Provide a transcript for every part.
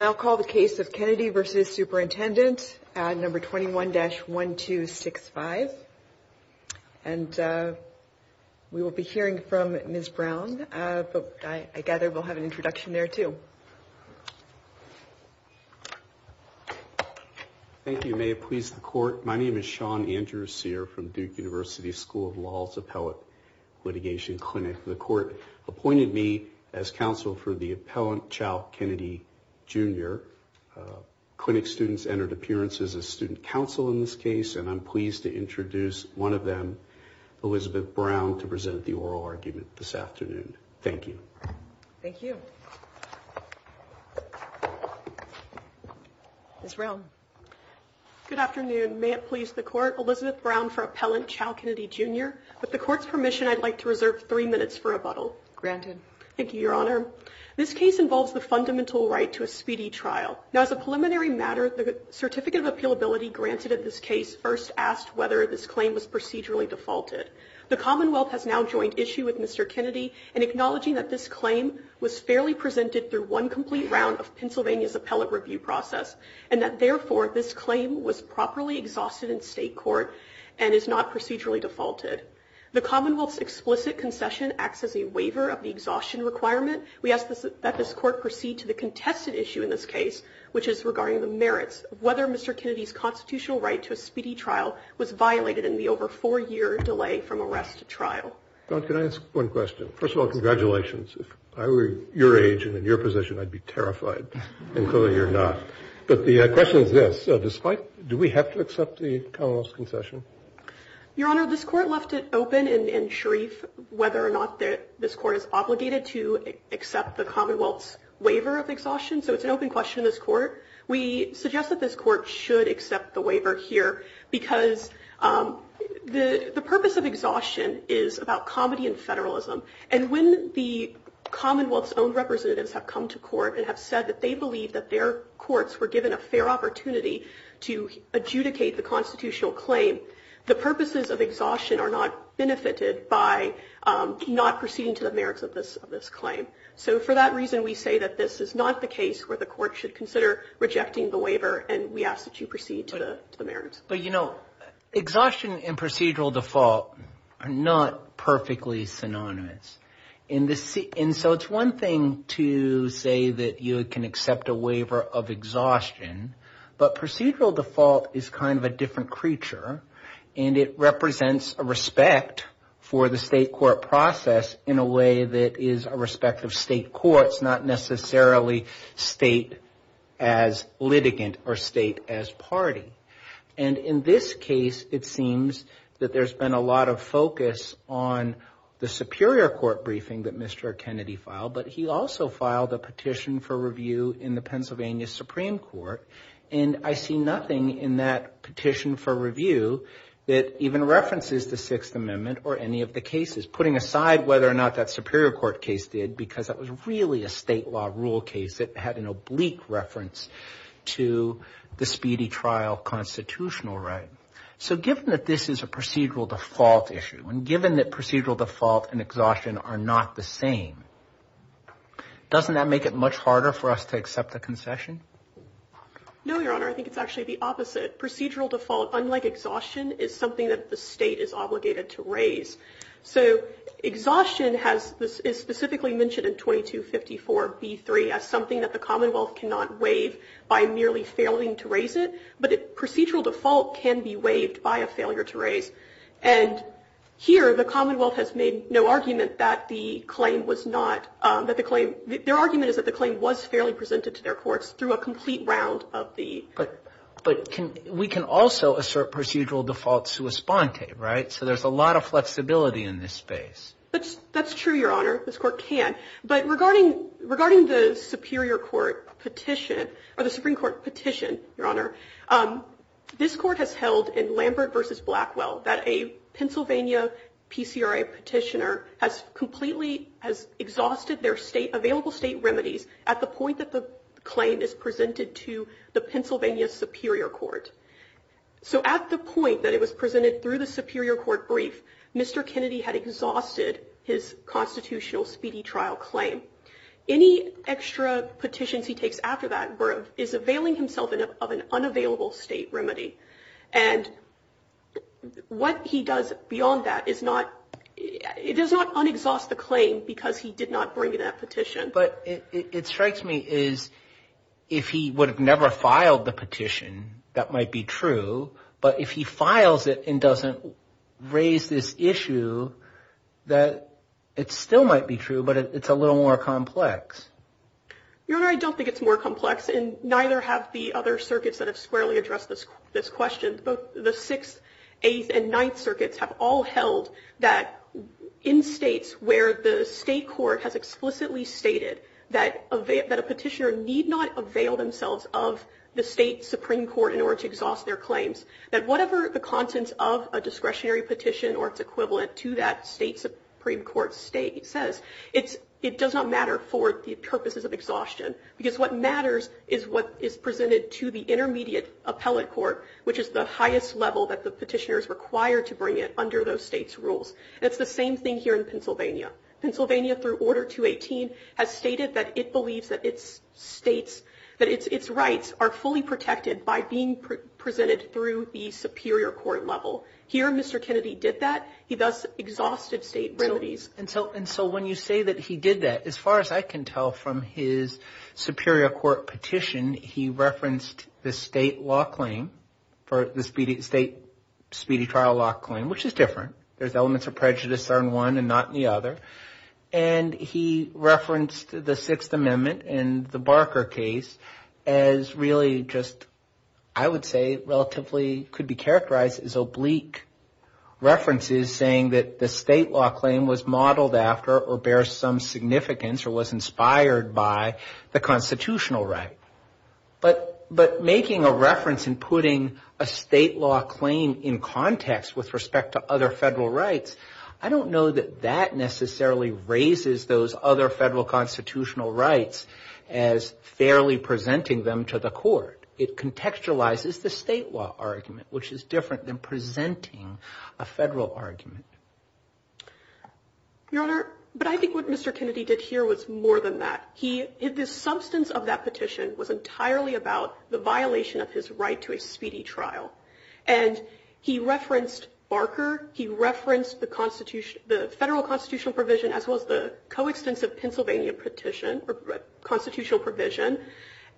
I'll call the case of Kennedy v. Superintendent number 21-1265. And we will be hearing from Ms. Brown. I gather we'll have an introduction there, too. Thank you. May it please the court. My name is Sean Andrew Sear from Duke University School of Law's Appellate Litigation Clinic. The court appointed me as counsel for the appellant, Chal Kennedy, Jr. Clinic students entered appearances as student counsel in this case, and I'm pleased to introduce one of them, Elizabeth Brown, to present the oral argument this afternoon. Thank you. Thank you. Ms. Brown. Good afternoon. May it please the court. Elizabeth Brown for appellant Chal Kennedy, Jr. With the court's permission, I'd like to reserve three minutes for rebuttal. Granted. Thank you, Your Honor. This case involves the fundamental right to a speedy trial. Now, as a preliminary matter, the certificate of appealability granted at this case first asked whether this claim was procedurally defaulted. The Commonwealth has now joined issue with Mr. Kennedy and acknowledging that this claim was fairly presented through one complete round of Pennsylvania's appellate review process and that, therefore, this claim was properly exhausted in state court and is not procedurally defaulted. The Commonwealth's explicit concession acts as a waiver of the exhaustion requirement. We ask that this court proceed to the contested issue in this case, which is regarding the merits of whether Mr. Kennedy's constitutional right to a speedy trial was violated in the over four-year delay from arrest to trial. Can I ask one question? First of all, congratulations. If I were your age and in your position, I'd be terrified. And clearly you're not. But the question is this. Despite. Do we have to accept the concession? Your Honor, this court left it open and Sharif, whether or not this court is obligated to accept the Commonwealth's waiver of exhaustion. So it's an open question in this court. We suggest that this court should accept the waiver here because the purpose of exhaustion is about comedy and federalism. And when the Commonwealth's own representatives have come to court and have said that they believe that their courts were given a fair opportunity to adjudicate the constitutional claim, the purposes of exhaustion are not benefited by not proceeding to the merits of this claim. So for that reason, we say that this is not the case where the court should consider rejecting the waiver. And we ask that you proceed to the merits. But, you know, exhaustion and procedural default are not perfectly synonymous in this. And so it's one thing to say that you can accept a waiver of exhaustion. But procedural default is kind of a different creature. And it represents a respect for the state court process in a way that is a respect of state courts, not necessarily state as litigant or state as party. And in this case, it seems that there's been a lot of focus on the Superior Court briefing that Mr. Kennedy filed. But he also filed a petition for review in the Pennsylvania Supreme Court. And I see nothing in that petition for review that even references the Sixth Amendment or any of the cases. Putting aside whether or not that Superior Court case did, because that was really a state law rule case that had an oblique reference to the speedy trial constitutional right. So given that this is a procedural default issue, and given that procedural default and exhaustion are not the same, doesn't that make it much harder for us to accept a concession? No, Your Honor. I think it's actually the opposite. Procedural default, unlike exhaustion, is something that the state is obligated to raise. So exhaustion is specifically mentioned in 2254b3 as something that the Commonwealth cannot waive by merely failing to raise it. But procedural default can be waived by a failure to raise. And here, the Commonwealth has made no argument that the claim was not, that the claim, their argument is that the claim was fairly presented to their courts through a complete round of the. But we can also assert procedural default sua sponte, right? So there's a lot of flexibility in this space. That's true, Your Honor. This Court can. But regarding the Superior Court petition, or the Supreme Court petition, Your Honor, this Court has held in Lambert v. Blackwell that a Pennsylvania PCRA petitioner has completely exhausted their available state remedies at the point that the claim is presented to the Pennsylvania Superior Court. So at the point that it was presented through the Superior Court brief, Mr. Kennedy had exhausted his constitutional speedy trial claim. Any extra petitions he takes after that is availing himself of an unavailable state remedy. And what he does beyond that is not, it does not un-exhaust the claim because he did not bring that petition. But it strikes me as if he would have never filed the petition, that might be true. But if he files it and doesn't raise this issue, that it still might be true, but it's a little more complex. Your Honor, I don't think it's more complex, and neither have the other circuits that have squarely addressed this question. Both the 6th, 8th, and 9th circuits have all held that in states where the state court has explicitly stated that a petitioner need not avail themselves of the state Supreme Court in order to exhaust their claims. That whatever the contents of a discretionary petition or its equivalent to that state Supreme Court state says, it does not matter for the purposes of exhaustion. Because what matters is what is presented to the intermediate appellate court, which is the highest level that the petitioner is required to bring it under those states' rules. And it's the same thing here in Pennsylvania. Pennsylvania, through Order 218, has stated that it believes that its states, that its rights are fully protected by being presented through the superior court level. Here, Mr. Kennedy did that. He thus exhausted state remedies. And so when you say that he did that, as far as I can tell from his superior court petition, he referenced the state law claim for the speedy trial law claim, which is different. There's elements of prejudice there in one and not in the other. And he referenced the Sixth Amendment and the Barker case as really just, I would say, relatively could be characterized as oblique references saying that the state law claim was modeled after or bears some significance or was inspired by the constitutional right. But making a reference and putting a state law claim in context with respect to other Federal rights, I don't know that that necessarily raises those other Federal constitutional rights as fairly presenting them to the court. It contextualizes the state law argument, which is different than presenting a Federal argument. Your Honor, but I think what Mr. Kennedy did here was more than that. The substance of that petition was entirely about the violation of his right to a speedy trial. And he referenced Barker. He referenced the Federal constitutional provision as well as the coextensive Pennsylvania petition or constitutional provision.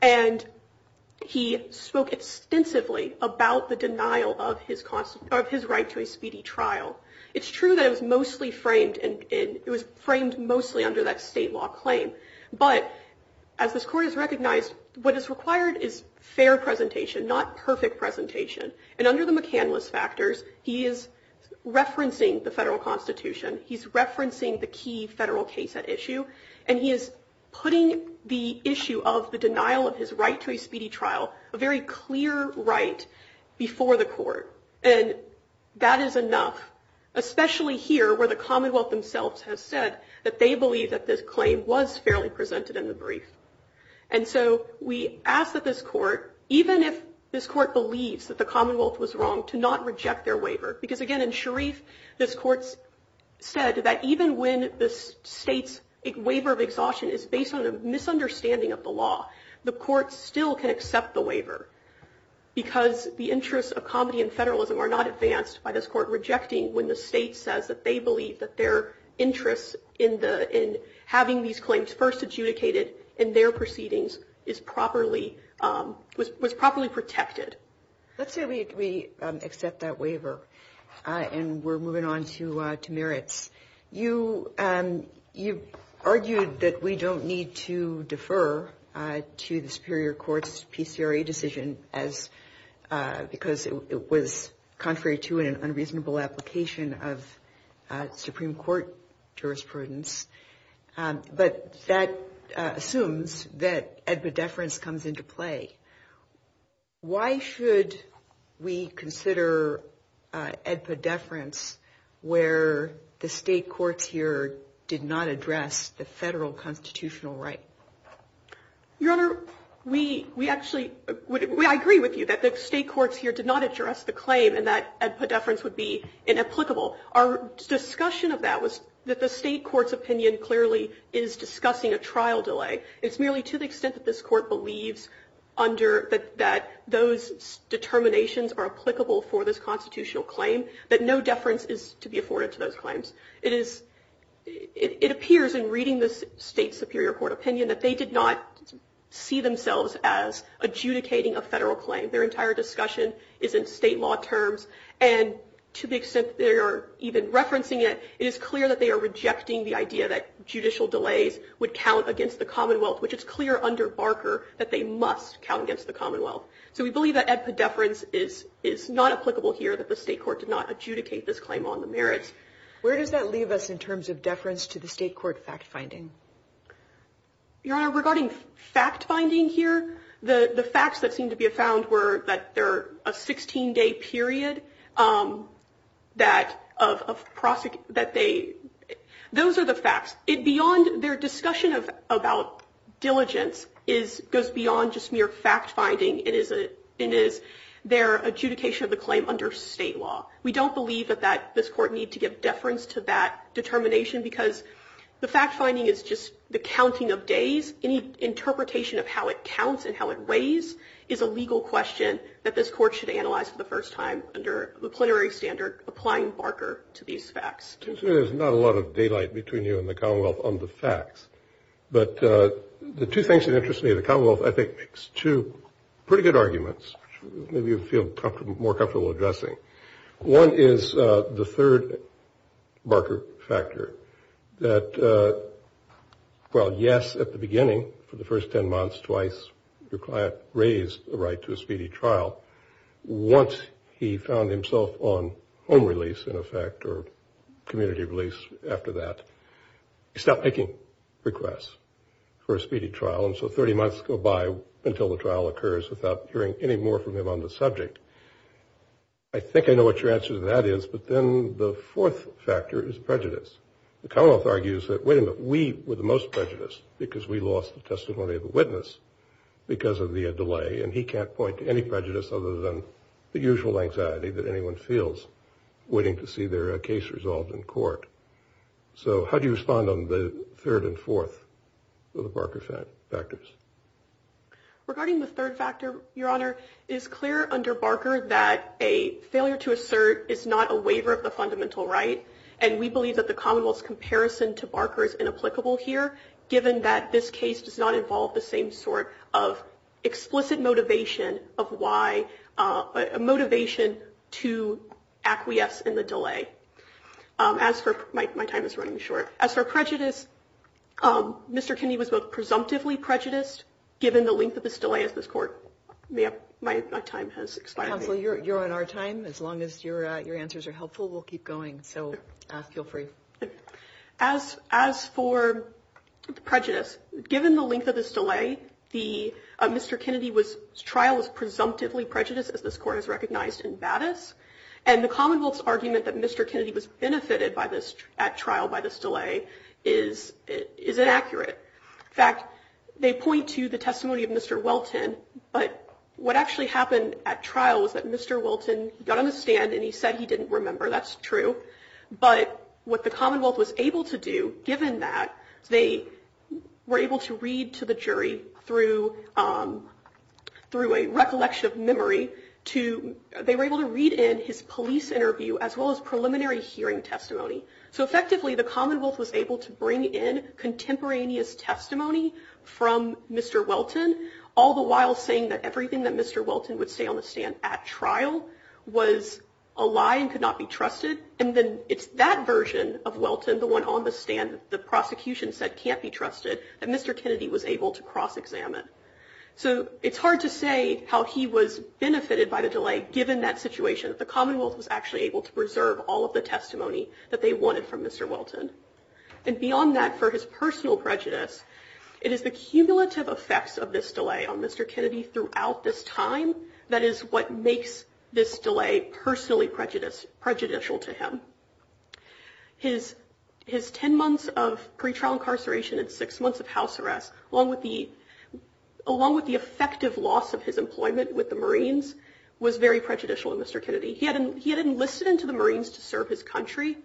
And he spoke extensively about the denial of his right to a speedy trial. It's true that it was mostly framed and it was framed mostly under that state law claim. But as this Court has recognized, what is required is fair presentation, not perfect presentation. And under the McCandless factors, he is referencing the Federal Constitution. He's referencing the key Federal case at issue. And he is putting the issue of the denial of his right to a speedy trial, a very clear right, before the court. And that is enough, especially here where the Commonwealth themselves have said that they believe that this claim was fairly presented in the brief. And so we ask that this Court, even if this Court believes that the Commonwealth was wrong, to not reject their waiver. Because again, in Sharif, this Court said that even when the State's waiver of exhaustion is based on a misunderstanding of the law, the Court still can accept the waiver. Because the interests of comedy and federalism are not advanced by this Court rejecting when the State says that they believe that their interests in the — in having these claims first adjudicated in their proceedings is properly — was properly protected. Let's say we accept that waiver and we're moving on to merits. You've argued that we don't need to defer to the Superior Court's PCRA decision as — because it was contrary to an unreasonable application of Supreme Court jurisprudence. But that assumes that EDPA deference comes into play. Why should we consider EDPA deference where the State courts here did not address the federal constitutional right? Your Honor, we actually — I agree with you that the State courts here did not address the claim and that EDPA deference would be inapplicable. Our discussion of that was that the State court's opinion clearly is discussing a trial delay. It's merely to the extent that this Court believes under — that those determinations are applicable for this constitutional claim, that no deference is to be afforded to those claims. It is — it appears in reading the State's Superior Court opinion that they did not see themselves as adjudicating a federal claim. Their entire discussion is in State law terms. And to the extent that they are even referencing it, it is clear that they are rejecting the idea that judicial delays would count against the Commonwealth, which it's clear under Barker that they must count against the Commonwealth. So we believe that EDPA deference is not applicable here, that the State court did not adjudicate this claim on the merits. Where does that leave us in terms of deference to the State court fact-finding? Your Honor, regarding fact-finding here, the facts that seem to be afound were that they're a 16-day period that of — that they — those are the facts. It beyond — their discussion of — about diligence is — goes beyond just mere fact-finding. It is a — it is their adjudication of the claim under State law. We don't believe that that — this Court need to give deference to that determination because the fact-finding is just the counting of days. Any interpretation of how it counts and how it weighs is a legal question that this Court should analyze for the first time under the plenary standard applying Barker to these facts. It seems to me there's not a lot of daylight between you and the Commonwealth on the facts. But the two things that interest me, the Commonwealth, I think, makes two pretty good arguments, which maybe you'll feel more comfortable addressing. One is the third Barker factor, that while yes, at the beginning, for the first 10 months, twice, your client raised a right to a speedy trial, once he found himself on home release, in effect, or community release after that, he stopped making requests for a speedy trial. And so 30 months go by until the trial occurs without hearing any more from him on the subject. I think I know what your answer to that is. But then the fourth factor is prejudice. The Commonwealth argues that, wait a minute, we were the most prejudiced because we lost the testimony of a witness because of the delay. And he can't point to any prejudice other than the usual anxiety that anyone feels waiting to see their case resolved in court. So how do you respond on the third and fourth of the Barker factors? Regarding the third factor, Your Honor, it is clear under Barker that a failure to assert is not a waiver of the fundamental right. And we believe that the Commonwealth's comparison to Barker is inapplicable here, given that this case does not involve the same sort of explicit motivation to acquiesce in the delay. My time is running short. As for prejudice, Mr. Kennedy was both presumptively prejudiced, given the length of this delay of this court. My time has expired. Counsel, you're on our time. As long as your answers are helpful, we'll keep going. So feel free. As for prejudice, given the length of this delay, Mr. Kennedy's trial was presumptively prejudiced, as this court has recognized in Baddus. And the Commonwealth's argument that Mr. Kennedy was benefited at trial by this delay is inaccurate. In fact, they point to the testimony of Mr. Welton. But what actually happened at trial was that Mr. Welton got on the stand and he said he didn't remember. That's true. But what the Commonwealth was able to do, given that they were able to read to the jury through a recollection of memory, they were able to read in his police interview as well as preliminary hearing testimony. So effectively, the Commonwealth was able to bring in contemporaneous testimony from Mr. Welton, all the while saying that everything that Mr. Welton would say on the stand at trial was a lie and could not be trusted. And then it's that version of Welton, the one on the stand that the prosecution said can't be trusted, that Mr. Kennedy was able to cross-examine. So it's hard to say how he was benefited by the delay, given that situation, that the Commonwealth was actually able to preserve all of the testimony that they wanted from Mr. Welton. And beyond that, for his personal prejudice, it is the cumulative effects of this delay on Mr. Kennedy throughout this time that is what makes this delay personally prejudicial to him. His ten months of pretrial incarceration and six months of house arrest, along with the effective loss of his employment with the Marines, was very prejudicial to Mr. Kennedy. He had enlisted into the Marines to serve his country,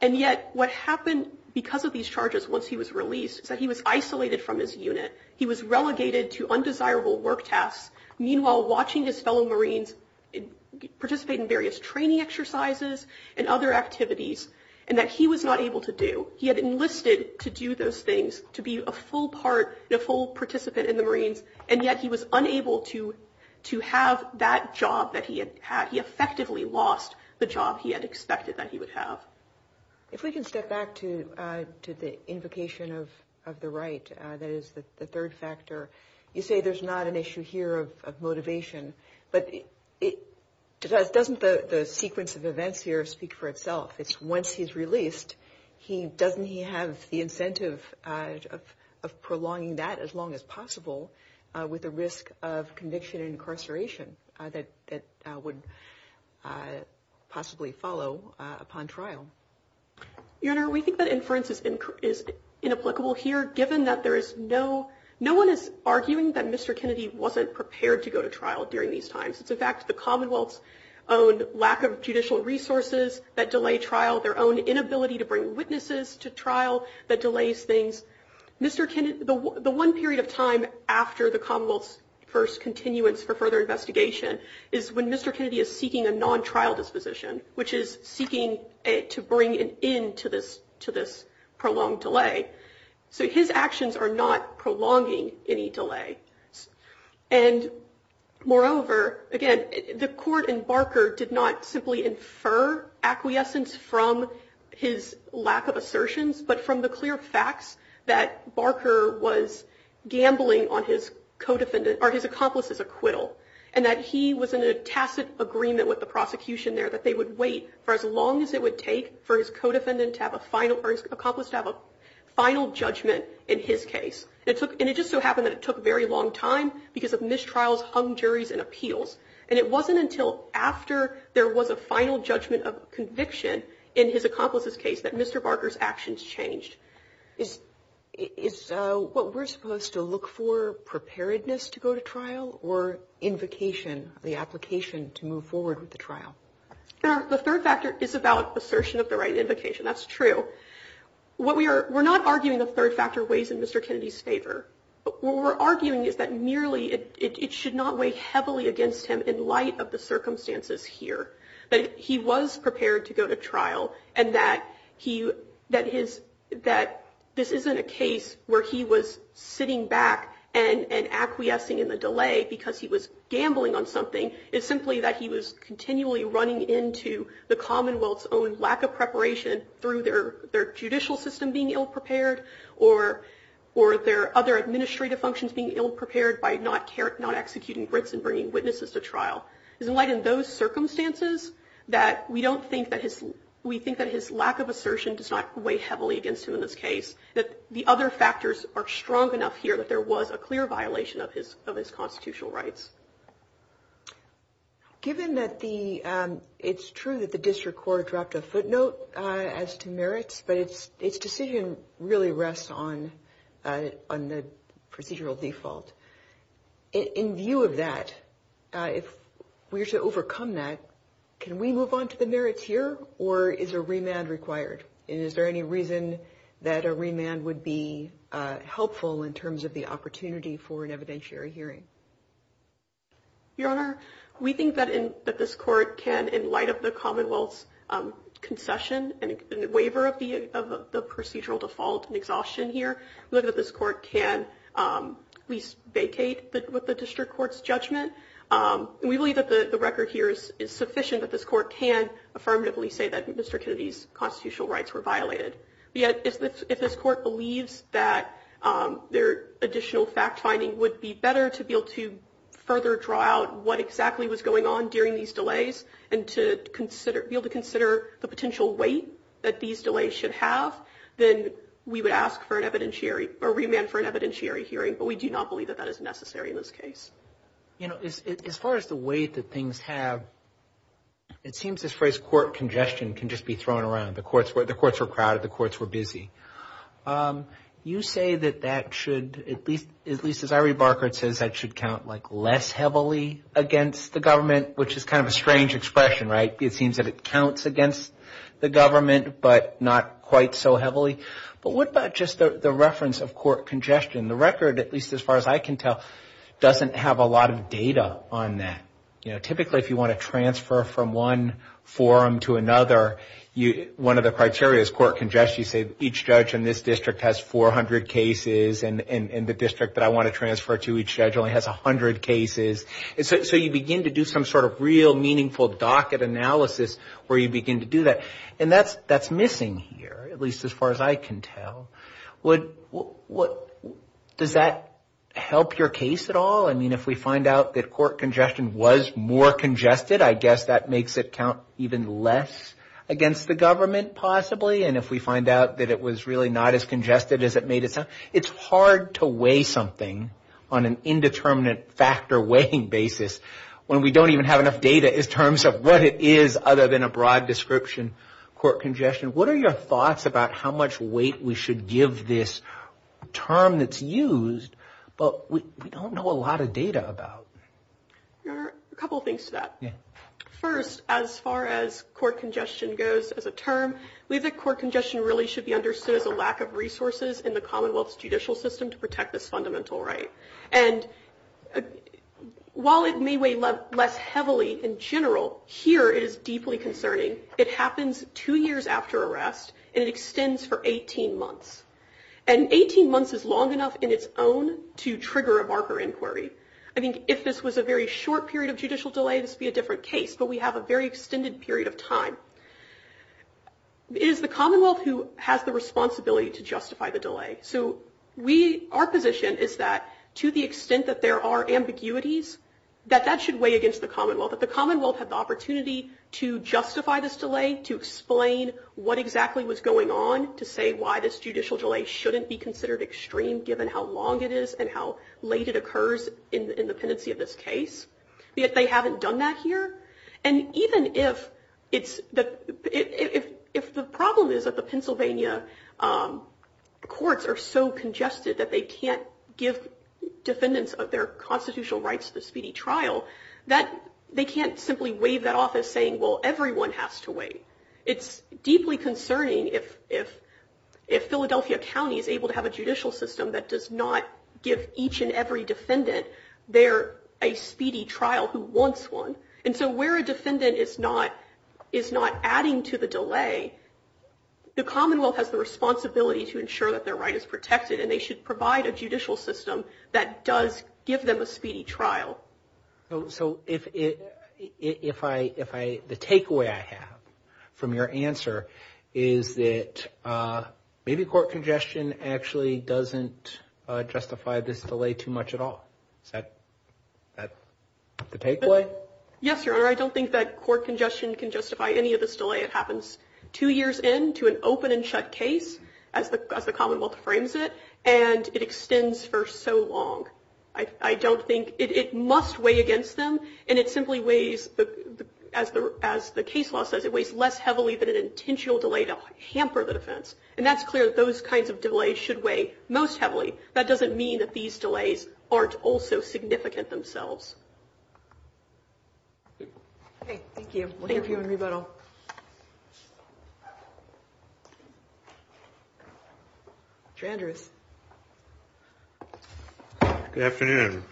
and yet what happened because of these charges once he was released is that he was isolated from his unit. He was relegated to undesirable work tasks, meanwhile watching his fellow Marines participate in various training exercises and other activities, and that he was not able to do. He had enlisted to do those things, to be a full part, a full participant in the Marines, and yet he was unable to have that job that he had had. He had lost the job he had expected that he would have. If we can step back to the invocation of the right, that is the third factor, you say there's not an issue here of motivation, but doesn't the sequence of events here speak for itself? It's once he's released, doesn't he have the incentive of prolonging that as long as possible with the risk of conviction and incarceration that would possibly follow upon trial? Your Honor, we think that inference is inapplicable here, given that no one is arguing that Mr. Kennedy wasn't prepared to go to trial during these times. It's, in fact, the Commonwealth's own lack of judicial resources that delay trial, their own inability to bring witnesses to trial that delays things. The one period of time after the Commonwealth's first continuance for further investigation is when Mr. Kennedy is seeking a non-trial disposition, which is seeking to bring an end to this prolonged delay. So his actions are not prolonging any delay. And moreover, again, the court in Barker did not simply infer acquiescence from his lack of assertions, but from the clear facts that Barker was gambling on his accomplice's acquittal and that he was in a tacit agreement with the prosecution there that they would wait for as long as it would take for his accomplice to have a final judgment in his case. And it just so happened that it took a very long time because of mistrials, hung juries, and appeals. And it wasn't until after there was a final judgment of conviction in his accomplice's case that Mr. Barker's actions changed. Is what we're supposed to look for preparedness to go to trial or invocation, the application to move forward with the trial? The third factor is about assertion of the right invocation. That's true. We're not arguing the third factor weighs in Mr. Kennedy's favor. What we're arguing is that merely it should not weigh heavily against him in light of the circumstances here, that he was prepared to go to trial and that this isn't a case where he was sitting back and acquiescing in the delay because he was gambling on something. It's simply that he was continually running into the Commonwealth's own lack of preparation through their judicial system being ill-prepared or their other administrative functions being ill-prepared by not executing writs and bringing witnesses to trial. It's in light of those circumstances that we don't think that his – we think that his lack of assertion does not weigh heavily against him in this case, that the other factors are strong enough here that there was a clear violation of his constitutional rights. Given that the – it's true that the district court dropped a footnote as to merits, but its decision really rests on the procedural default. In view of that, if we were to overcome that, can we move on to the merits here or is a remand required? And is there any reason that a remand would be helpful in terms of the opportunity for an evidentiary hearing? Your Honor, we think that in – that this court can, in light of the Commonwealth's concession and waiver of the procedural default and exhaustion here, we believe that this court can at least vacate with the district court's judgment. And we believe that the record here is sufficient that this court can affirmatively say that Mr. Kennedy's constitutional rights were violated. If this court believes that their additional fact-finding would be better to be able to further draw out what exactly was going on during these delays and to be able to consider the potential weight that these delays should have, then we would ask for an evidentiary – or remand for an evidentiary hearing. But we do not believe that that is necessary in this case. You know, as far as the weight that things have, it seems this phrase court congestion can just be thrown around. The courts were crowded. The courts were busy. You say that that should at least, as Irie Barker says, that should count like less heavily against the government, which is kind of a strange expression, right? Maybe it seems that it counts against the government but not quite so heavily. But what about just the reference of court congestion? The record, at least as far as I can tell, doesn't have a lot of data on that. You know, typically if you want to transfer from one forum to another, one of the criteria is court congestion. You say each judge in this district has 400 cases and the district that I want to transfer to each judge only has 100 cases. So you begin to do some sort of real meaningful docket analysis where you begin to do that. And that's missing here, at least as far as I can tell. Does that help your case at all? I mean, if we find out that court congestion was more congested, I guess that makes it count even less against the government possibly. And if we find out that it was really not as congested as it made it sound, it's hard to weigh something on an indeterminate factor weighing basis when we don't even have enough data in terms of what it is other than a broad description, court congestion. What are your thoughts about how much weight we should give this term that's used but we don't know a lot of data about? A couple of things to that. We think court congestion really should be understood as a lack of resources in the Commonwealth's judicial system to protect this fundamental right. And while it may weigh less heavily in general, here it is deeply concerning. It happens two years after arrest and it extends for 18 months. And 18 months is long enough in its own to trigger a marker inquiry. I think if this was a very short period of judicial delay, this would be a different case, but we have a very extended period of time. It is the Commonwealth who has the responsibility to justify the delay. So our position is that to the extent that there are ambiguities, that that should weigh against the Commonwealth, that the Commonwealth had the opportunity to justify this delay, to explain what exactly was going on, to say why this judicial delay shouldn't be considered extreme given how long it is and how late it occurs in the pendency of this case. Yet they haven't done that here. And even if the problem is that the Pennsylvania courts are so congested that they can't give defendants of their constitutional rights to the speedy trial, they can't simply waive that off as saying, well, everyone has to wait. It's deeply concerning if Philadelphia County is able to have a judicial system that does not give each and every defendant there a speedy trial who wants one. And so where a defendant is not adding to the delay, the Commonwealth has the responsibility to ensure that their right is protected and they should provide a judicial system that does give them a speedy trial. So the takeaway I have from your answer is that maybe court congestion actually doesn't justify this delay too much at all. Is that the takeaway? Yes, Your Honor. I don't think that court congestion can justify any of this delay. It happens two years into an open and shut case as the Commonwealth frames it, and it extends for so long. I don't think it must weigh against them. And it simply weighs, as the case law says, it weighs less heavily than an intentional delay to hamper the defense. And that's clear that those kinds of delays should weigh most heavily. That doesn't mean that these delays aren't also significant themselves. Okay. Thank you. We'll hear from you in rebuttal. Mr. Andrews. Good afternoon.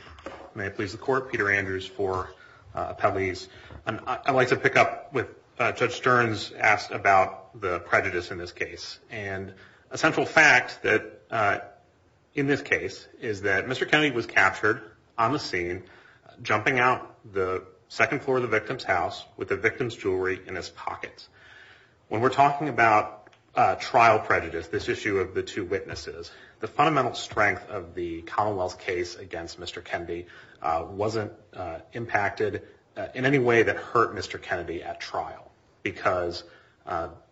May it please the Court. Peter Andrews for Appellees. I'd like to pick up what Judge Stearns asked about the prejudice in this case. And a central fact in this case is that Mr. Kennedy was captured on the scene jumping out the second floor of the victim's house with the victim's jewelry in his pockets. When we're talking about trial prejudice, this issue of the two witnesses, the fundamental strength of the Commonwealth's case against Mr. Kennedy wasn't impacted in any way that hurt Mr. Kennedy at trial, because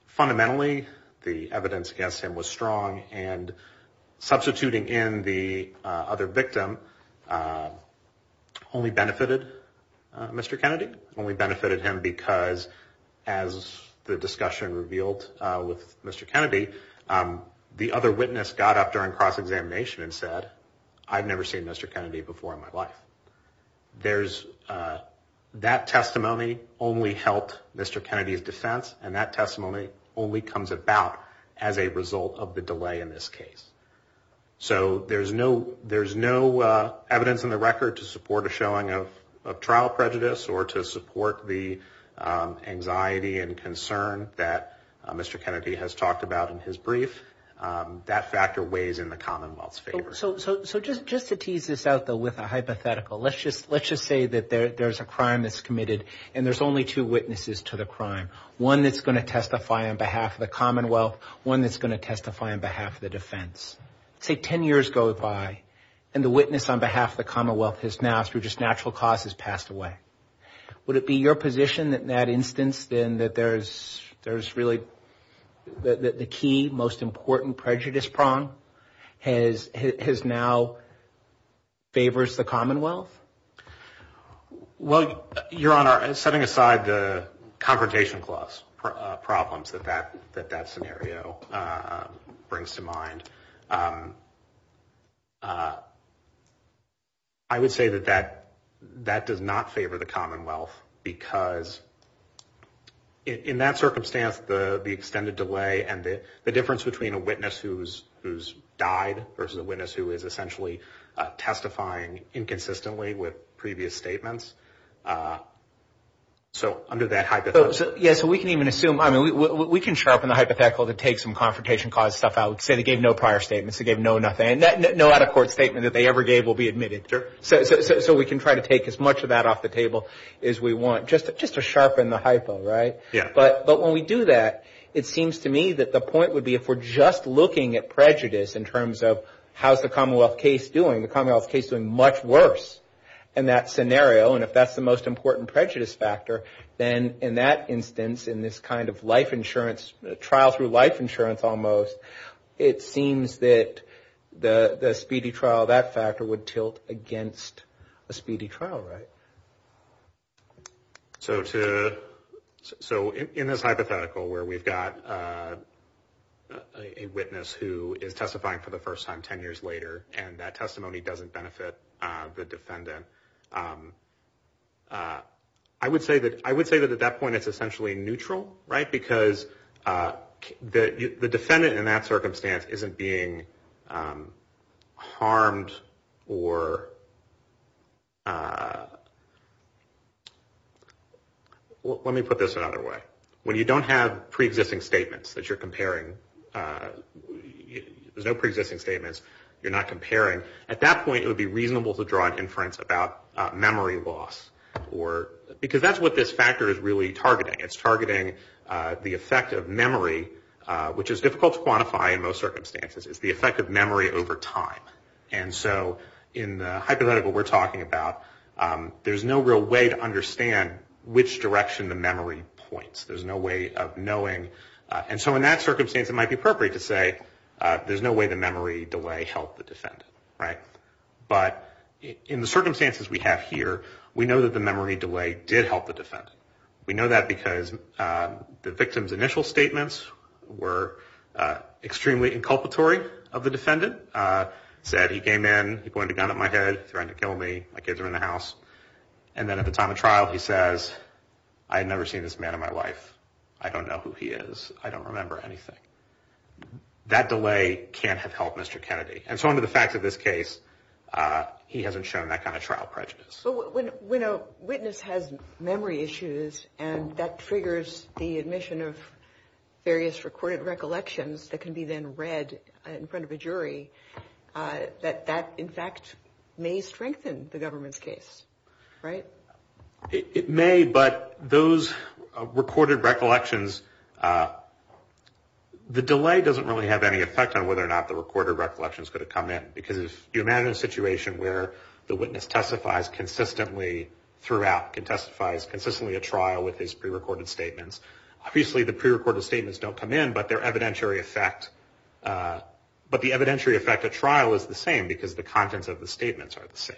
fundamentally the evidence against him was strong, and substituting in the other victim only benefited Mr. Kennedy, only benefited him because, as the discussion revealed with Mr. Kennedy, the other witness got up during cross-examination and said, I've never seen Mr. Kennedy before in my life. That testimony only helped Mr. Kennedy's defense, and that testimony only comes about as a result of the delay in this case. So there's no evidence in the record to support a showing of trial prejudice or to support the anxiety and concern that Mr. Kennedy has talked about in his brief. That factor weighs in the Commonwealth's favor. So just to tease this out, though, with a hypothetical, let's just say that there's a crime that's committed and there's only two witnesses to the crime, one that's going to testify on behalf of the Commonwealth, one that's going to testify on behalf of the defense. Say 10 years go by and the witness on behalf of the Commonwealth has now, through just natural cause, has passed away. Would it be your position that in that instance then that there's really the key, most important prejudice prong has now favors the Commonwealth? Well, Your Honor, setting aside the confrontation clause problems that that scenario brings to mind, I would say that that does not favor the Commonwealth, because in that circumstance the extended delay and the difference between a witness who's died versus a witness who is essentially testifying inconsistently with previous statements. So under that hypothetical. Yeah, so we can even assume, I mean, we can sharpen the hypothetical to take some confrontation clause stuff out. Say they gave no prior statements, they gave no nothing. No out-of-court statement that they ever gave will be admitted. So we can try to take as much of that off the table as we want, just to sharpen the hypo, right? But when we do that, it seems to me that the point would be if we're just looking at prejudice in terms of how's the Commonwealth case doing, the Commonwealth case doing much worse in that scenario, and if that's the most important prejudice factor, then in that instance, in this kind of life insurance, trial through life insurance almost, it seems that the speedy trial, that factor would tilt against a speedy trial, right? So in this hypothetical where we've got a witness who is testifying for the first time 10 years later and that testimony doesn't benefit the defendant, I would say that at that point it's essentially neutral, right? Because the defendant in that circumstance isn't being harmed or, let me put this another way. When you don't have pre-existing statements that you're comparing, there's no pre-existing statements you're not comparing, at that point it would be reasonable to draw an inference about memory loss because that's what this factor is really targeting. It's targeting the effect of memory, which is difficult to quantify in most circumstances. It's the effect of memory over time. And so in the hypothetical we're talking about, there's no real way to understand which direction the memory points. There's no way of knowing. And so in that circumstance it might be appropriate to say there's no way the memory delay helped the defendant, right? But in the circumstances we have here, we know that the memory delay did help the defendant. We know that because the victim's initial statements were extremely inculpatory of the defendant. Said he came in, he pointed a gun at my head, threatened to kill me, my kids are in the house. And then at the time of trial he says, I had never seen this man in my life. I don't know who he is. I don't remember anything. That delay can't have helped Mr. Kennedy. And so under the facts of this case, he hasn't shown that kind of trial prejudice. So when a witness has memory issues and that triggers the admission of various recorded recollections that can be then read in front of a jury, that in fact may strengthen the government's case, right? It may, but those recorded recollections, the delay doesn't really have any effect on whether or not the recorded recollections could have come in. Because if you imagine a situation where the witness testifies consistently throughout, testifies consistently at trial with his prerecorded statements, obviously the prerecorded statements don't come in, but their evidentiary effect, but the evidentiary effect at trial is the same because the contents of the statements are the same.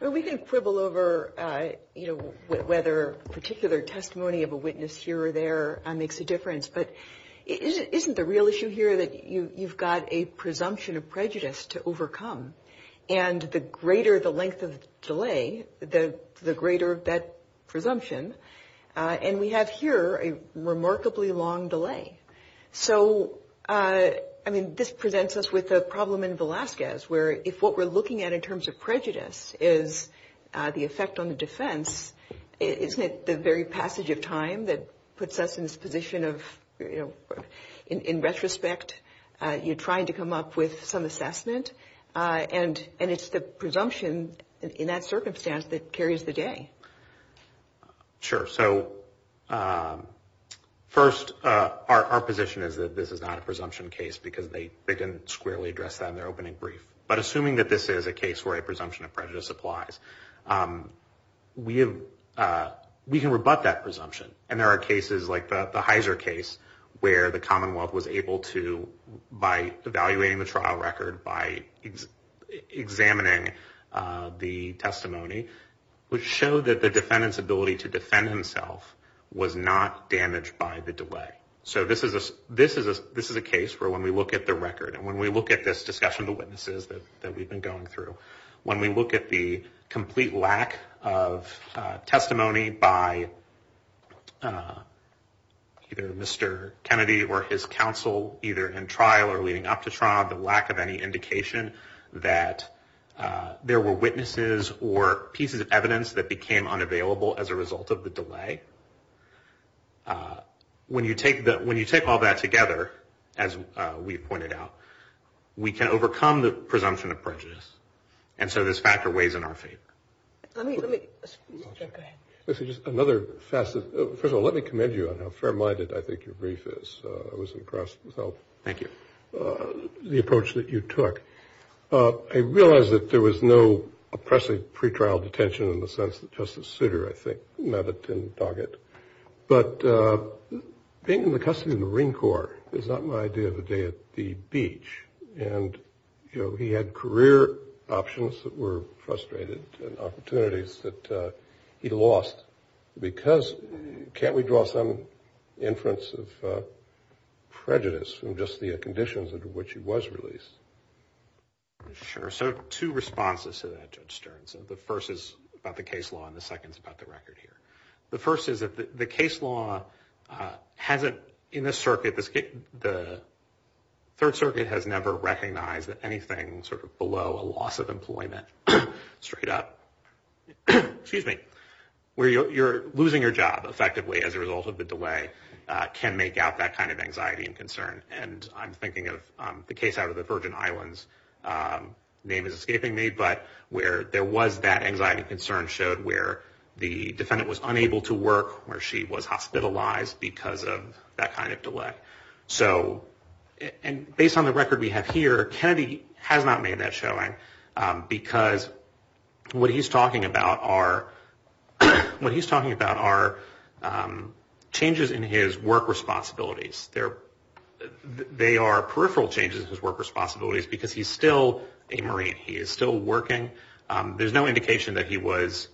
Well, we can quibble over, you know, whether particular testimony of a witness here or there makes a difference. But isn't the real issue here that you've got a presumption of prejudice to overcome? And the greater the length of delay, the greater that presumption. And we have here a remarkably long delay. So, I mean, this presents us with a problem in Velazquez, where if what we're looking at in terms of prejudice is the effect on the defense, isn't it the very passage of time that puts us in this position of, you know, in retrospect, you're trying to come up with some assessment? And it's the presumption in that circumstance that carries the day. Sure. So, first, our position is that this is not a presumption case because they didn't squarely address that in their opening brief. But assuming that this is a case where a presumption of prejudice applies, we can rebut that presumption. And there are cases like the Heiser case where the Commonwealth was able to, by evaluating the trial record, by examining the testimony, would show that the defendant's ability to defend himself was not damaged by the delay. So this is a case where when we look at the record and when we look at this discussion of the witnesses that we've been going through, when we look at the complete lack of testimony by either Mr. Kennedy or his counsel, either in trial or leading up to trial, the lack of any indication that there were witnesses or pieces of evidence that became unavailable as a result of the delay, when you take all that together, as we pointed out, we can overcome the presumption of prejudice. And so this factor weighs in our favor. Let me go ahead. Just another facet. First of all, let me commend you on how fair-minded I think your brief is. I was impressed with how the approach that you took. I realize that there was no oppressive pretrial detention in the sense that Justice Souter, I think, but being in the custody of the Marine Corps is not my idea of a day at the beach. And, you know, he had career options that were frustrated and opportunities that he lost. Because can't we draw some inference of prejudice from just the conditions under which he was released? Sure. So two responses to that, Judge Stern. So the first is about the case law and the second is about the record here. The first is that the case law hasn't, in the circuit, the Third Circuit has never recognized that anything sort of below a loss of employment, straight up, where you're losing your job effectively as a result of the delay can make out that kind of anxiety and concern. And I'm thinking of the case out of the Virgin Islands, name is escaping me, but where there was that anxiety and concern showed where the defendant was unable to work, where she was hospitalized because of that kind of delay. So, and based on the record we have here, Kennedy has not made that showing because what he's talking about are changes in his work responsibilities. They are peripheral changes in his work responsibilities because he's still a Marine. He is still working. There's no indication that he was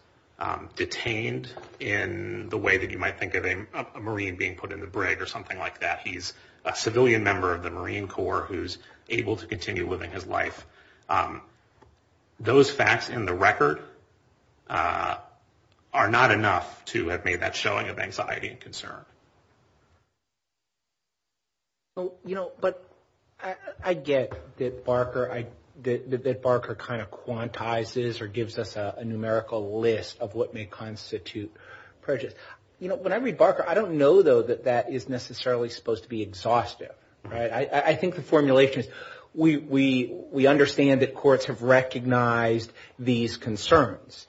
detained in the way that you might think of a Marine being put in the brig or something like that. He's a civilian member of the Marine Corps who's able to continue living his life. Those facts in the record are not enough to have made that showing of anxiety and concern. Well, you know, but I get that Barker kind of quantizes or gives us a numerical list of what may constitute prejudice. You know, when I read Barker, I don't know, though, that that is necessarily supposed to be exhaustive, right? I think the formulation is we understand that courts have recognized these concerns.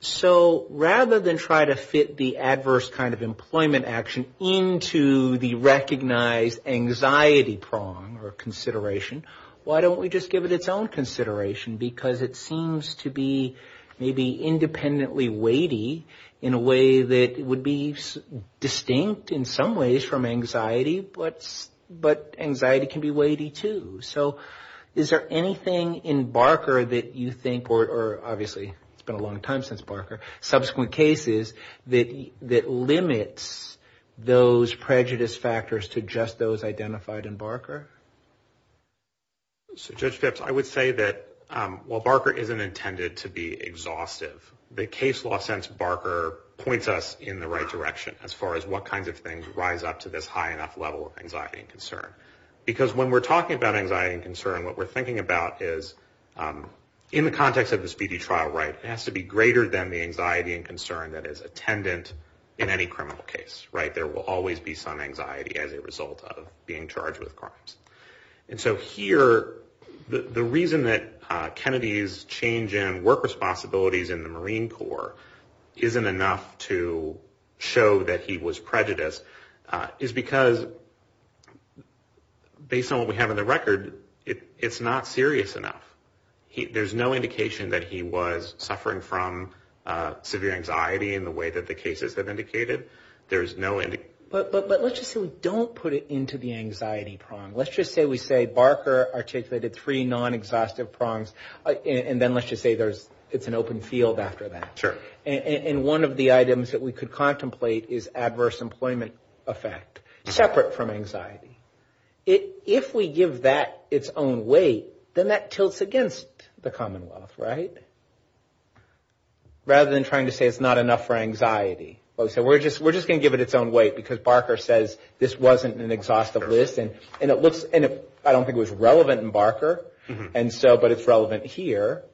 So rather than try to fit the adverse kind of employment action into the recognized anxiety prong or consideration, why don't we just give it its own consideration because it seems to be maybe independently weighty in a way that would be distinct, in some ways, from anxiety, but anxiety can be weighty, too. So is there anything in Barker that you think, or obviously it's been a long time since Barker, subsequent cases that limits those prejudice factors to just those identified in Barker? So Judge Phipps, I would say that while Barker isn't intended to be exhaustive, the case law sense Barker points us in the right direction as far as what kinds of things rise up to this high enough level of anxiety and concern. Because when we're talking about anxiety and concern, what we're thinking about is in the context of this BD trial, right, it has to be greater than the anxiety and concern that is attendant in any criminal case, right? There will always be some anxiety as a result of being charged with crimes. And so here, the reason that Kennedy's change in work responsibilities in the Marine Corps isn't enough to show that he was based on what we have on the record, it's not serious enough. There's no indication that he was suffering from severe anxiety in the way that the cases have indicated. There's no indication. But let's just say we don't put it into the anxiety prong. Let's just say we say Barker articulated three non-exhaustive prongs, and then let's just say it's an open field after that. And one of the items that we could contemplate is adverse employment effect, separate from anxiety. If we give that its own weight, then that tilts against the Commonwealth, right? Rather than trying to say it's not enough for anxiety. So we're just going to give it its own weight, because Barker says this wasn't an exhaustive list. And I don't think it was relevant in Barker, but it's relevant here.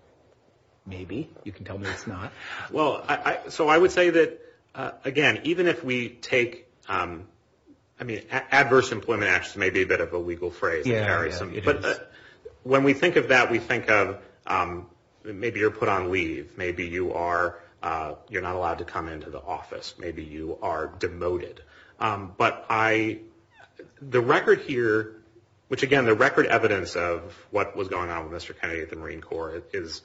Maybe. You can tell me it's not. Well, so I would say that, again, even if we take, I mean, adverse employment may be a bit of a legal phrase. But when we think of that, we think of maybe you're put on leave. Maybe you're not allowed to come into the office. Maybe you are demoted. But the record here, which, again, the record evidence of what was going on with Mr. Kennedy at the Marine Corps is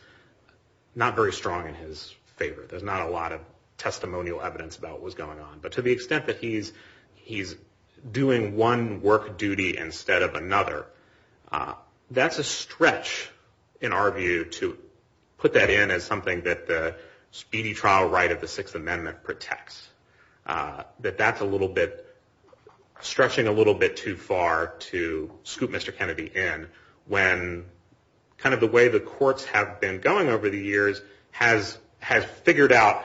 not very strong in his favor. There's not a lot of testimonial evidence about what was going on. But to the extent that he's doing one work duty instead of another, that's a stretch, in our view, to put that in as something that the speedy trial right of the Sixth Amendment protects. That that's a little bit, stretching a little bit too far to scoop Mr. Kennedy in, when kind of the way the courts have been going over the years has figured out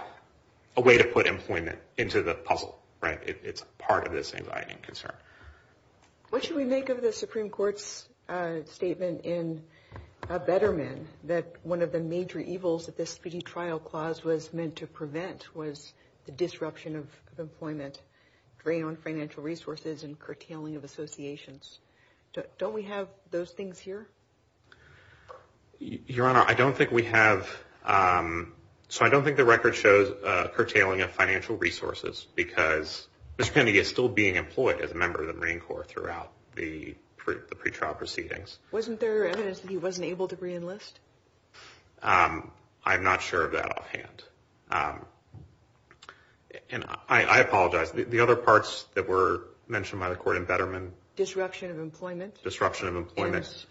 a way to put employment into the puzzle. Right? It's part of this anxiety and concern. What should we make of the Supreme Court's statement in Betterment that one of the major evils that this speedy trial clause was meant to prevent was the disruption of employment, drain on financial resources and curtailing of associations. Don't we have those things here? Your Honor, I don't think we have. So I don't think the record shows curtailing of financial resources, because Mr. Kennedy is still being employed as a member of the Marine Corps throughout the pretrial proceedings. Wasn't there evidence that he wasn't able to re-enlist? I'm not sure of that offhand. And I apologize. The other parts that were mentioned by the court in Betterment? Disruption of employment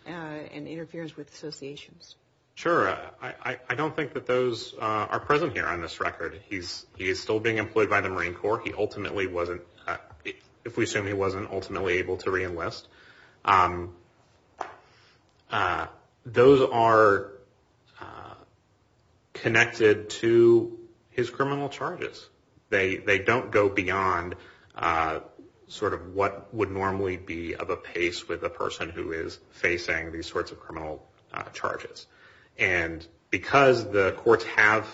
and interference with associations. Sure. I don't think that those are present here on this record. He's still being employed by the Marine Corps. He ultimately wasn't, if we assume he wasn't ultimately able to re-enlist. Those are connected to his criminal charges. They don't go beyond sort of what would normally be of a pace with a person who is facing these sorts of criminal charges. And because the courts have,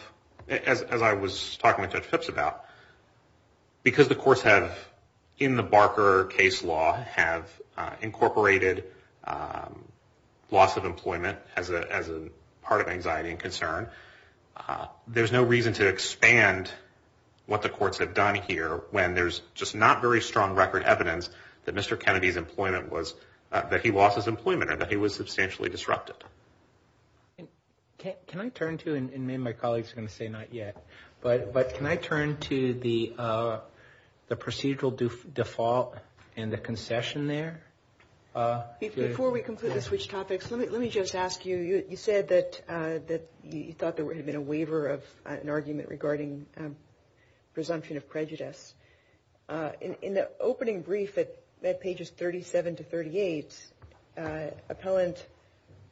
as I was talking to Judge Phipps about, because the courts have, in the Barker case law, have incorporated loss of employment as a part of anxiety and concern, there's no reason to expand what the courts have done here when there's just not very strong record evidence that Mr. Kennedy's employment was, that he lost his employment and that he was substantially disrupted. Can I turn to, and maybe my colleagues are going to say not yet, but can I turn to the procedural default and the concession there? Before we complete the switch topics, let me just ask you. You said that you thought there had been a waiver of an argument regarding presumption of prejudice. In the opening brief at pages 37 to 38, appellant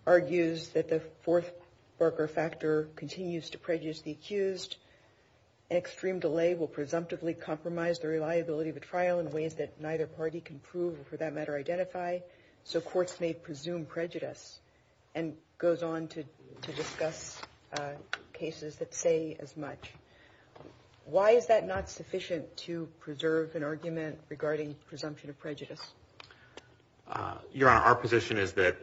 argues that the fourth Barker factor continues to prejudice the accused. Extreme delay will presumptively compromise the reliability of the trial in ways that neither party can prove, or for that matter, identify, so courts may presume prejudice and goes on to discuss cases that say as much. Why is that not sufficient to preserve an argument regarding presumption of prejudice? Your Honor, our position is that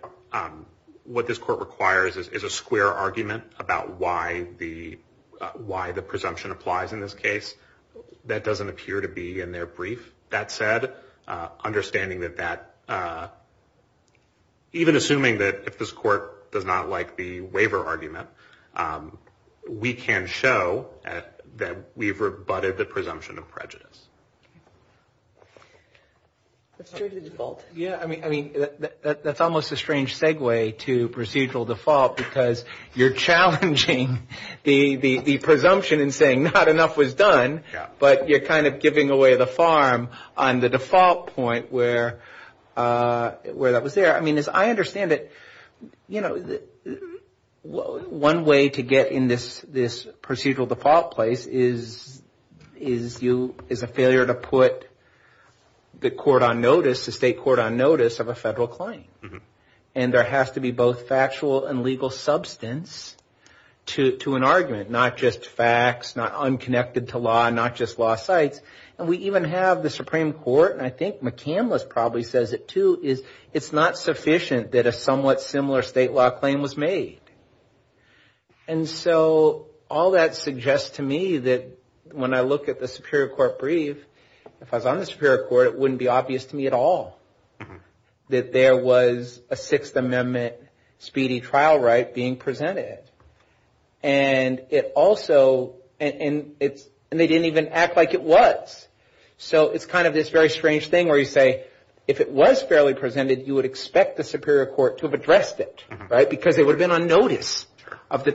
what this court requires is a square argument about why the waiver of an argument is not sufficient to preserve an argument. That said, understanding that that, even assuming that if this court does not like the waiver argument, we can show that we've rebutted the presumption of prejudice. That's almost a strange segue to procedural default, because you're challenging harm on the default point where that was there. I mean, as I understand it, one way to get in this procedural default place is a failure to put the court on notice, the state court on notice, of a federal claim. And there has to be both factual and legal substance to an argument. Not just facts, not unconnected to law, not just lost sites. And we even have the Supreme Court, and I think McCandless probably says it too, is it's not sufficient that a somewhat similar state law claim was made. And so all that suggests to me that when I look at the Superior Court brief, if I was on the Superior Court, it wouldn't be obvious to me at all. That there was a Sixth Amendment speedy trial right being presented. And it also, and they didn't even act like it was. So it's kind of this very strange thing where you say, if it was fairly presented, you would expect the Superior Court to have addressed it, right? Because it would have been on notice of the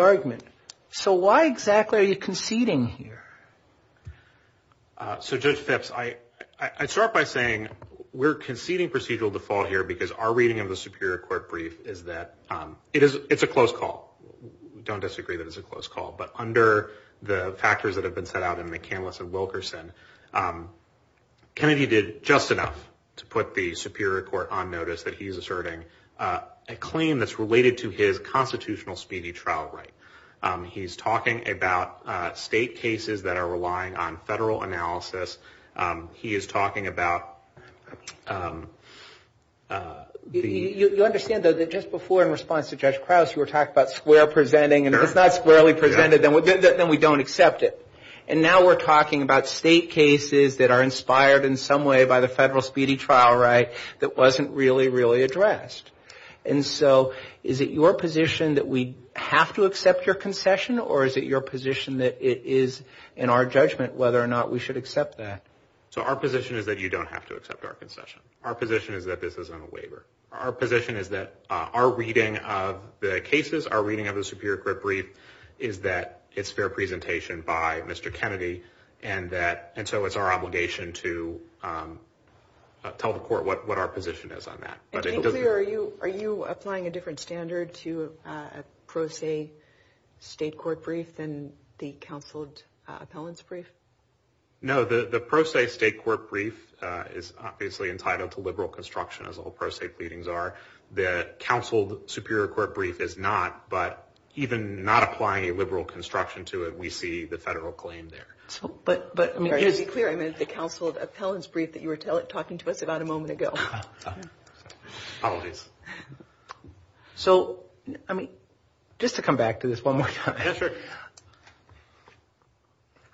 argument. So why exactly are you conceding here? So Judge Phipps, I start by saying we're conceding procedural default here because our reading of the Superior Court brief is that it's a close call. We don't disagree that it's a close call. But under the factors that have been set out in McCandless and Wilkerson, Kennedy did just enough to put the Superior Court on notice that he's asserting a claim that's related to his constitutional speedy trial right. He's talking about state cases that are relying on federal analysis. He is talking about the... You understand, though, that just before in response to Judge Krause, you were talking about square presenting, and if it's not squarely presented, then we don't accept it. And now we're talking about state cases that are inspired in some way by the federal speedy trial right that wasn't really, really addressed. And so is it your position that we have to accept your concession? Or is it your position that it is in our judgment whether or not we should accept that? So our position is that you don't have to accept our concession. Our position is that this isn't a waiver. Our position is that our reading of the cases, our reading of the Superior Court brief is that it's fair presentation by Mr. Kennedy. And so it's our obligation to tell the court what our position is on that. And to be clear, are you applying a different standard to a pro se state court brief than the counseled appellant's brief? No, the pro se state court brief is obviously entitled to liberal construction, as all pro se pleadings are. The counseled Superior Court brief is not, but even not applying a liberal construction to it, we see the federal claim there. But to be clear, I meant the counseled appellant's brief that you were talking to us about a moment ago. So, I mean, just to come back to this one more time.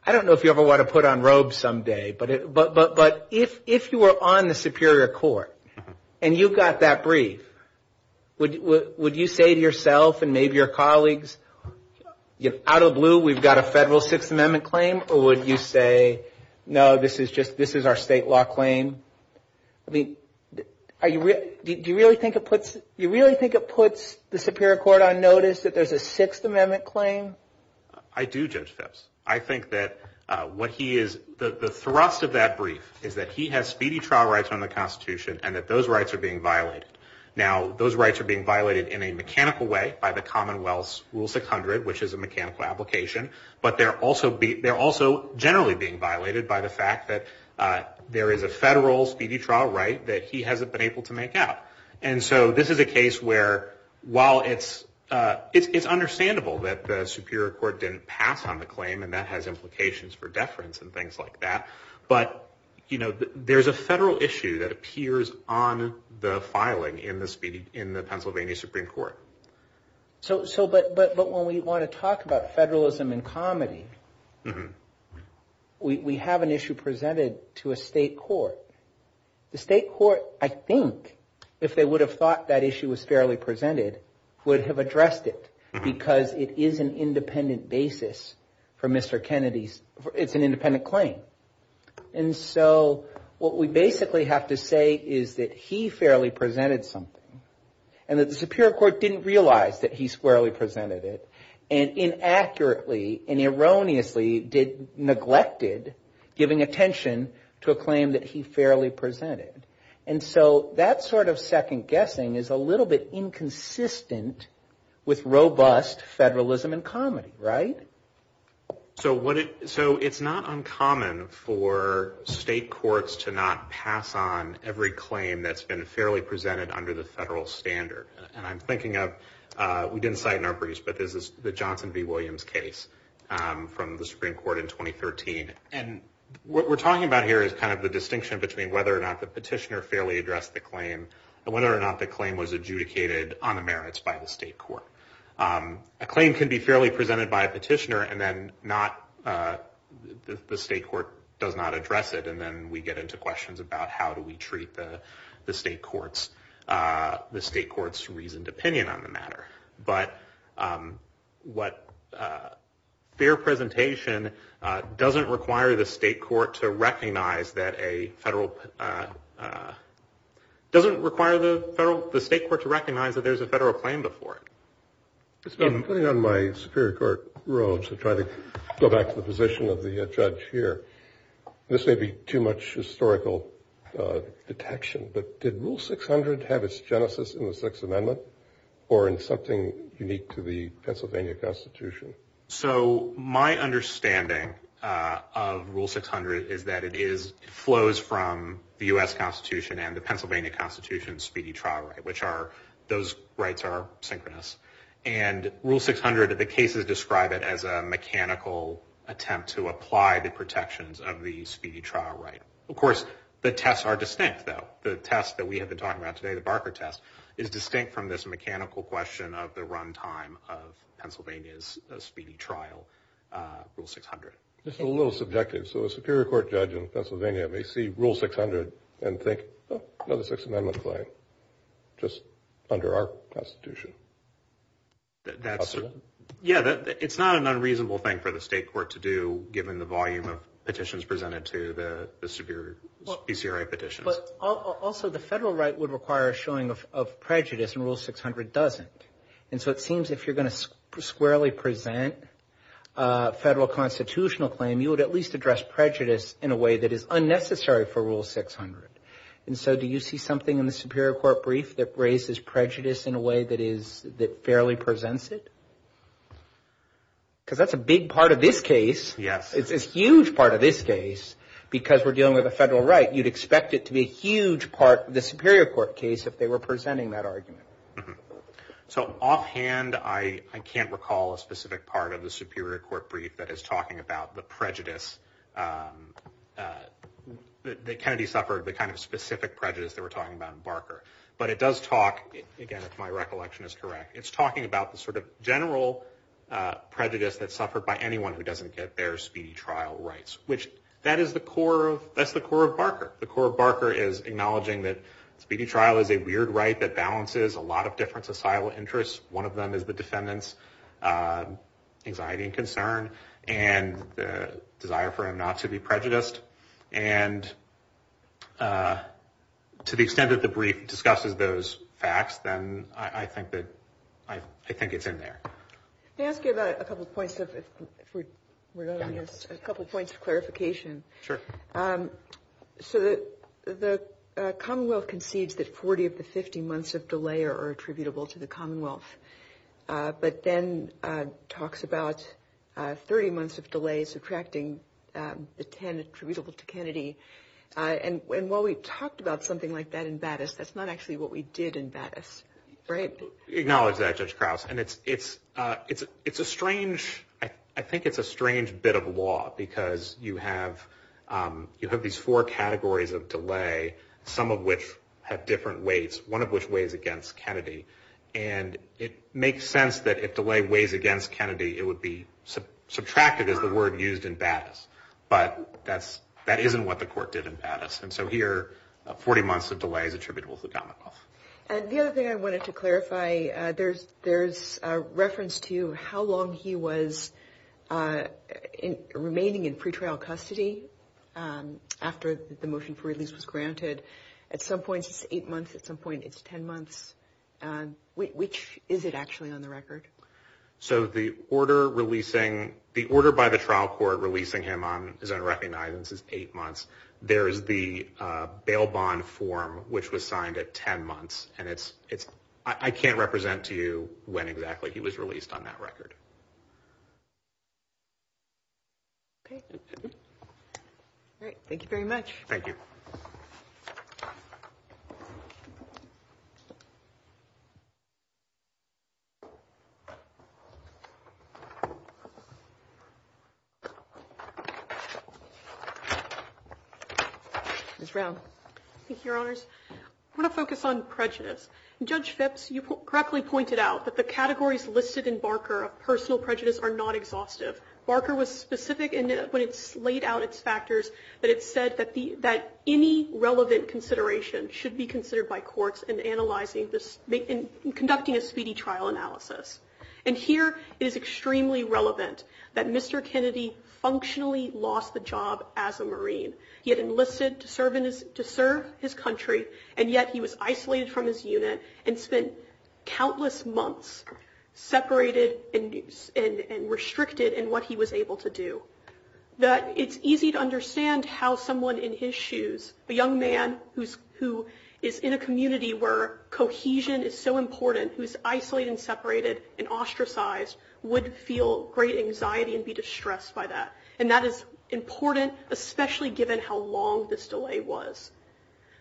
I don't know if you ever want to put on robes someday, but if you were on the Superior Court and you got that brief, would you say to yourself and maybe your colleagues, out of the blue, we've got a federal Sixth Amendment claim? Or would you say, no, this is our state law claim? I mean, do you really think it puts the Superior Court on notice that there's a Sixth Amendment claim? I do, Judge Phipps. I think that what he is, the thrust of that brief is that he has speedy trial rights on the Constitution and that those rights are being violated. Now, those rights are being violated in a mechanical way by the Commonwealth's Rule 600, which is a mechanical application. But they're also generally being violated by the fact that there is a federal speedy trial right that he hasn't been able to make out. And so this is a case where while it's understandable that the Superior Court didn't pass on the claim and that has implications for deference and things like that, but there's a federal issue that appears on the filing in the Pennsylvania Supreme Court. So, but when we want to talk about federalism and comedy, we have an issue presented to a state court. The state court, I think, if they would have thought that issue was fairly presented, would have addressed it because it is an independent basis for Mr. Kennedy's, it's an independent claim. And so what we basically have to say is that he fairly presented something and that the Superior Court didn't realize that he squarely presented it. And inaccurately and erroneously neglected giving attention to a claim that he fairly presented. And so that sort of second guessing is a little bit inconsistent with robust federalism and comedy, right? So it's not uncommon for state courts to not pass on every claim that's been fairly presented under the federal standard. And I'm thinking of, we didn't cite in our briefs, but this is the Johnson v. Williams case from the Supreme Court in 2013. And what we're talking about here is kind of the distinction between whether or not the petitioner fairly addressed the claim and whether or not the claim was adjudicated by the petitioner and then not, the state court does not address it. And then we get into questions about how do we treat the state court's reasoned opinion on the matter. But what, fair presentation doesn't require the state court to recognize that a federal, doesn't require the state court to recognize that there's a federal claim before it. I'm putting on my Superior Court robes to try to go back to the position of the judge here. This may be too much historical detection, but did Rule 600 have its genesis in the Sixth Amendment or in something unique to the Pennsylvania Constitution? So my understanding of Rule 600 is that it is flows from the U.S. Constitution and the Pennsylvania Constitution's speedy trial right, which are, those rights are synchronous. And Rule 600, the cases describe it as a mechanical attempt to apply the protections of the speedy trial right. Of course, the tests are distinct, though. The test that we have been talking about today, the Barker test, is distinct from this mechanical question of the runtime of Pennsylvania's speedy trial, Rule 600. This is a little subjective. So a Superior Court judge in Pennsylvania may see Rule 600 and think, oh, another Sixth Amendment claim, just under our Constitution. Yeah, it's not an unreasonable thing for the state court to do, given the volume of petitions presented to the Superior, BCRA petitions. But also, the federal right would require a showing of prejudice, and Rule 600 doesn't. And so it seems if you're going to squarely present a federal constitutional claim, you would at least address prejudice in a way that is unnecessary for Rule 600. And so do you see something in the Superior Court brief that raises prejudice in a way that is, that fairly presents it? Because that's a big part of this case. Yes. It's a huge part of this case, because we're dealing with a federal right. You'd expect it to be a huge part of the Superior Court case if they were presenting that argument. So offhand, I can't recall a specific part of the Superior Court brief that is talking about the prejudice that Kennedy suffered, the kind of specific prejudice that we're talking about in Barker. But it does talk, again, if my recollection is correct, it's talking about the sort of general prejudice that's suffered by anyone who doesn't get their speedy trial. Which, that is the core of, that's the core of Barker. The core of Barker is acknowledging that speedy trial is a weird right that balances a lot of different societal interests. One of them is the defendant's anxiety and concern, and the desire for him not to be prejudiced. And to the extent that the brief discusses those facts, then I think that, I think it's in there. May I ask you about a couple points of, if we're going to use, a couple points of clarification? Sure. So the Commonwealth concedes that 40 of the 50 months of delay are attributable to the Commonwealth, but then talks about 30 months of delay subtracting the 10 attributable to Kennedy. And while we talked about something like that in Battis, that's not actually what we did in Battis, right? Acknowledge that, Judge Krause. And it's a strange, I think it's a strange bit of law, because you have these four categories of delay, some of which have different weights, one of which weighs against Kennedy. And it makes sense that if delay weighs against Kennedy, it would be subtracted as the word used in Battis. But that isn't what the court did in Battis. And so here, 40 months of delay is attributable to the Commonwealth. And the other thing I wanted to clarify, there's a reference to how long he was remaining in pretrial custody after the motion for release was granted. At some point it's eight months, at some point it's 10 months. So the order by the trial court releasing him on his own recognizance is eight months. There is the bail bond form, which was signed at 10 months. And I can't represent to you when exactly he was released on that record. Okay. Ms. Brown. Thank you, Your Honors. I want to focus on prejudice. Judge Phipps, you correctly pointed out that the categories listed in Barker of personal prejudice are not exhaustive. Barker was specific when it laid out its factors that it said that any relevant consideration should be considered by courts in analyzing this, in conducting a speedy trial analysis. And here, it is extremely relevant that Mr. Kennedy functionally lost the job as a Marine. He had enlisted to serve his country, and yet he was isolated from his unit and spent countless months separated and restricted in what he was doing. That it's easy to understand how someone in his shoes, a young man who is in a community where cohesion is so important, who is isolated and separated and ostracized, would feel great anxiety and be distressed by that. And that is important, especially given how long this delay was.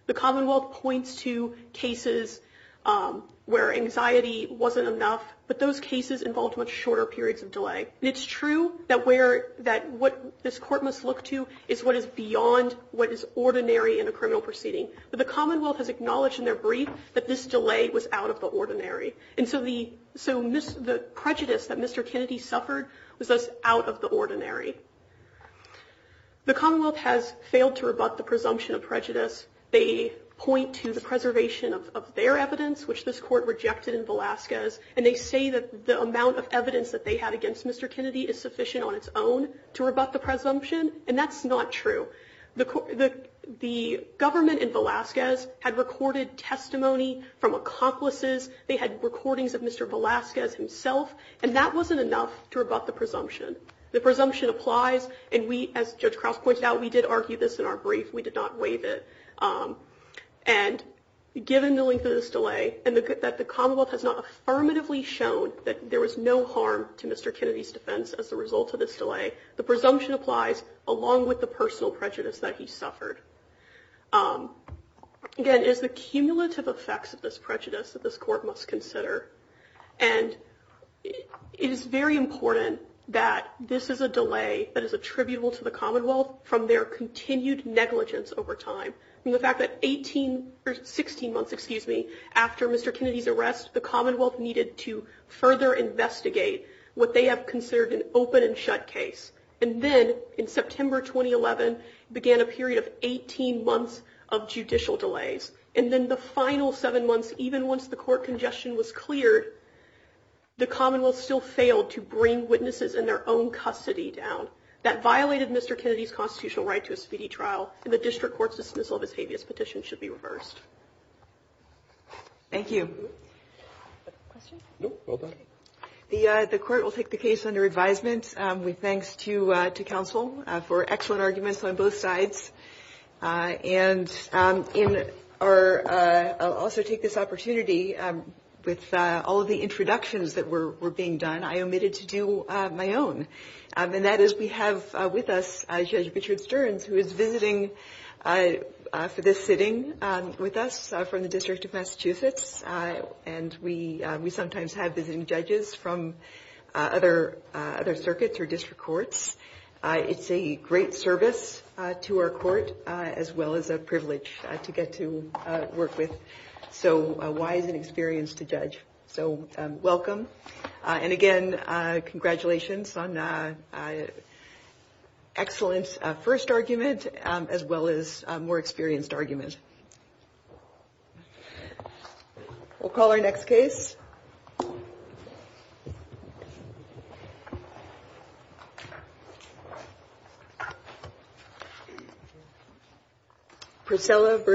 The Commonwealth points to cases where anxiety wasn't enough, but those cases involved much shorter periods of delay. And it's true that what this court must look to is what is beyond what is ordinary in a criminal proceeding. But the Commonwealth has acknowledged in their brief that this delay was out of the ordinary. And so the prejudice that Mr. Kennedy suffered was thus out of the ordinary. The Commonwealth has failed to rebut the presumption of prejudice. They point to the preservation of their evidence, which this court rejected in Velazquez. And they say that the amount of evidence that they had against Mr. Kennedy is sufficient on its own to rebut the presumption, and that's not true. The government in Velazquez had recorded testimony from accomplices. They had recordings of Mr. Velazquez himself, and that wasn't enough to rebut the presumption. The presumption applies, and we, as Judge Krauss pointed out, we did argue this in our brief. We did not waive it. And given the length of this delay, and that the Commonwealth has not affirmatively shown that there was no harm to Mr. Kennedy's defense as a result of this delay, the presumption applies, along with the personal prejudice that he suffered. Again, it is the cumulative effects of this prejudice that this court must consider. And it is very important that this is a delay that is attributable to the Commonwealth from their continued negligence over time. I mean, the fact that 18, or 16 months, excuse me, after Mr. Kennedy's arrest, the Commonwealth needed to further investigate what they have considered an open and shut case. And then, in September 2011, began a period of 18 months of judicial delays. And then, the final seven months, even once the court congestion was cleared, the Commonwealth still failed to bring witnesses in their own custody down. That violated Mr. Kennedy's constitutional right to a speedy trial, and the district court's dismissal of his habeas petition should be reversed. Thank you. The court will take the case under advisement. We thank counsel for excellent arguments on both sides. And in our, I'll also take this opportunity, with all of the introductions that were being done, I omitted to do my own. And that is, we have with us Judge Richard Stearns, who is visiting for this sitting with us from the District of Massachusetts. And we sometimes have visiting judges from other circuits or district courts. It's a great service to our court, as well as a privilege to get to work with. So, wise and experienced to judge. So, welcome. And again, congratulations on excellent first argument, as well as more experienced argument. We'll call our next case. Thank you.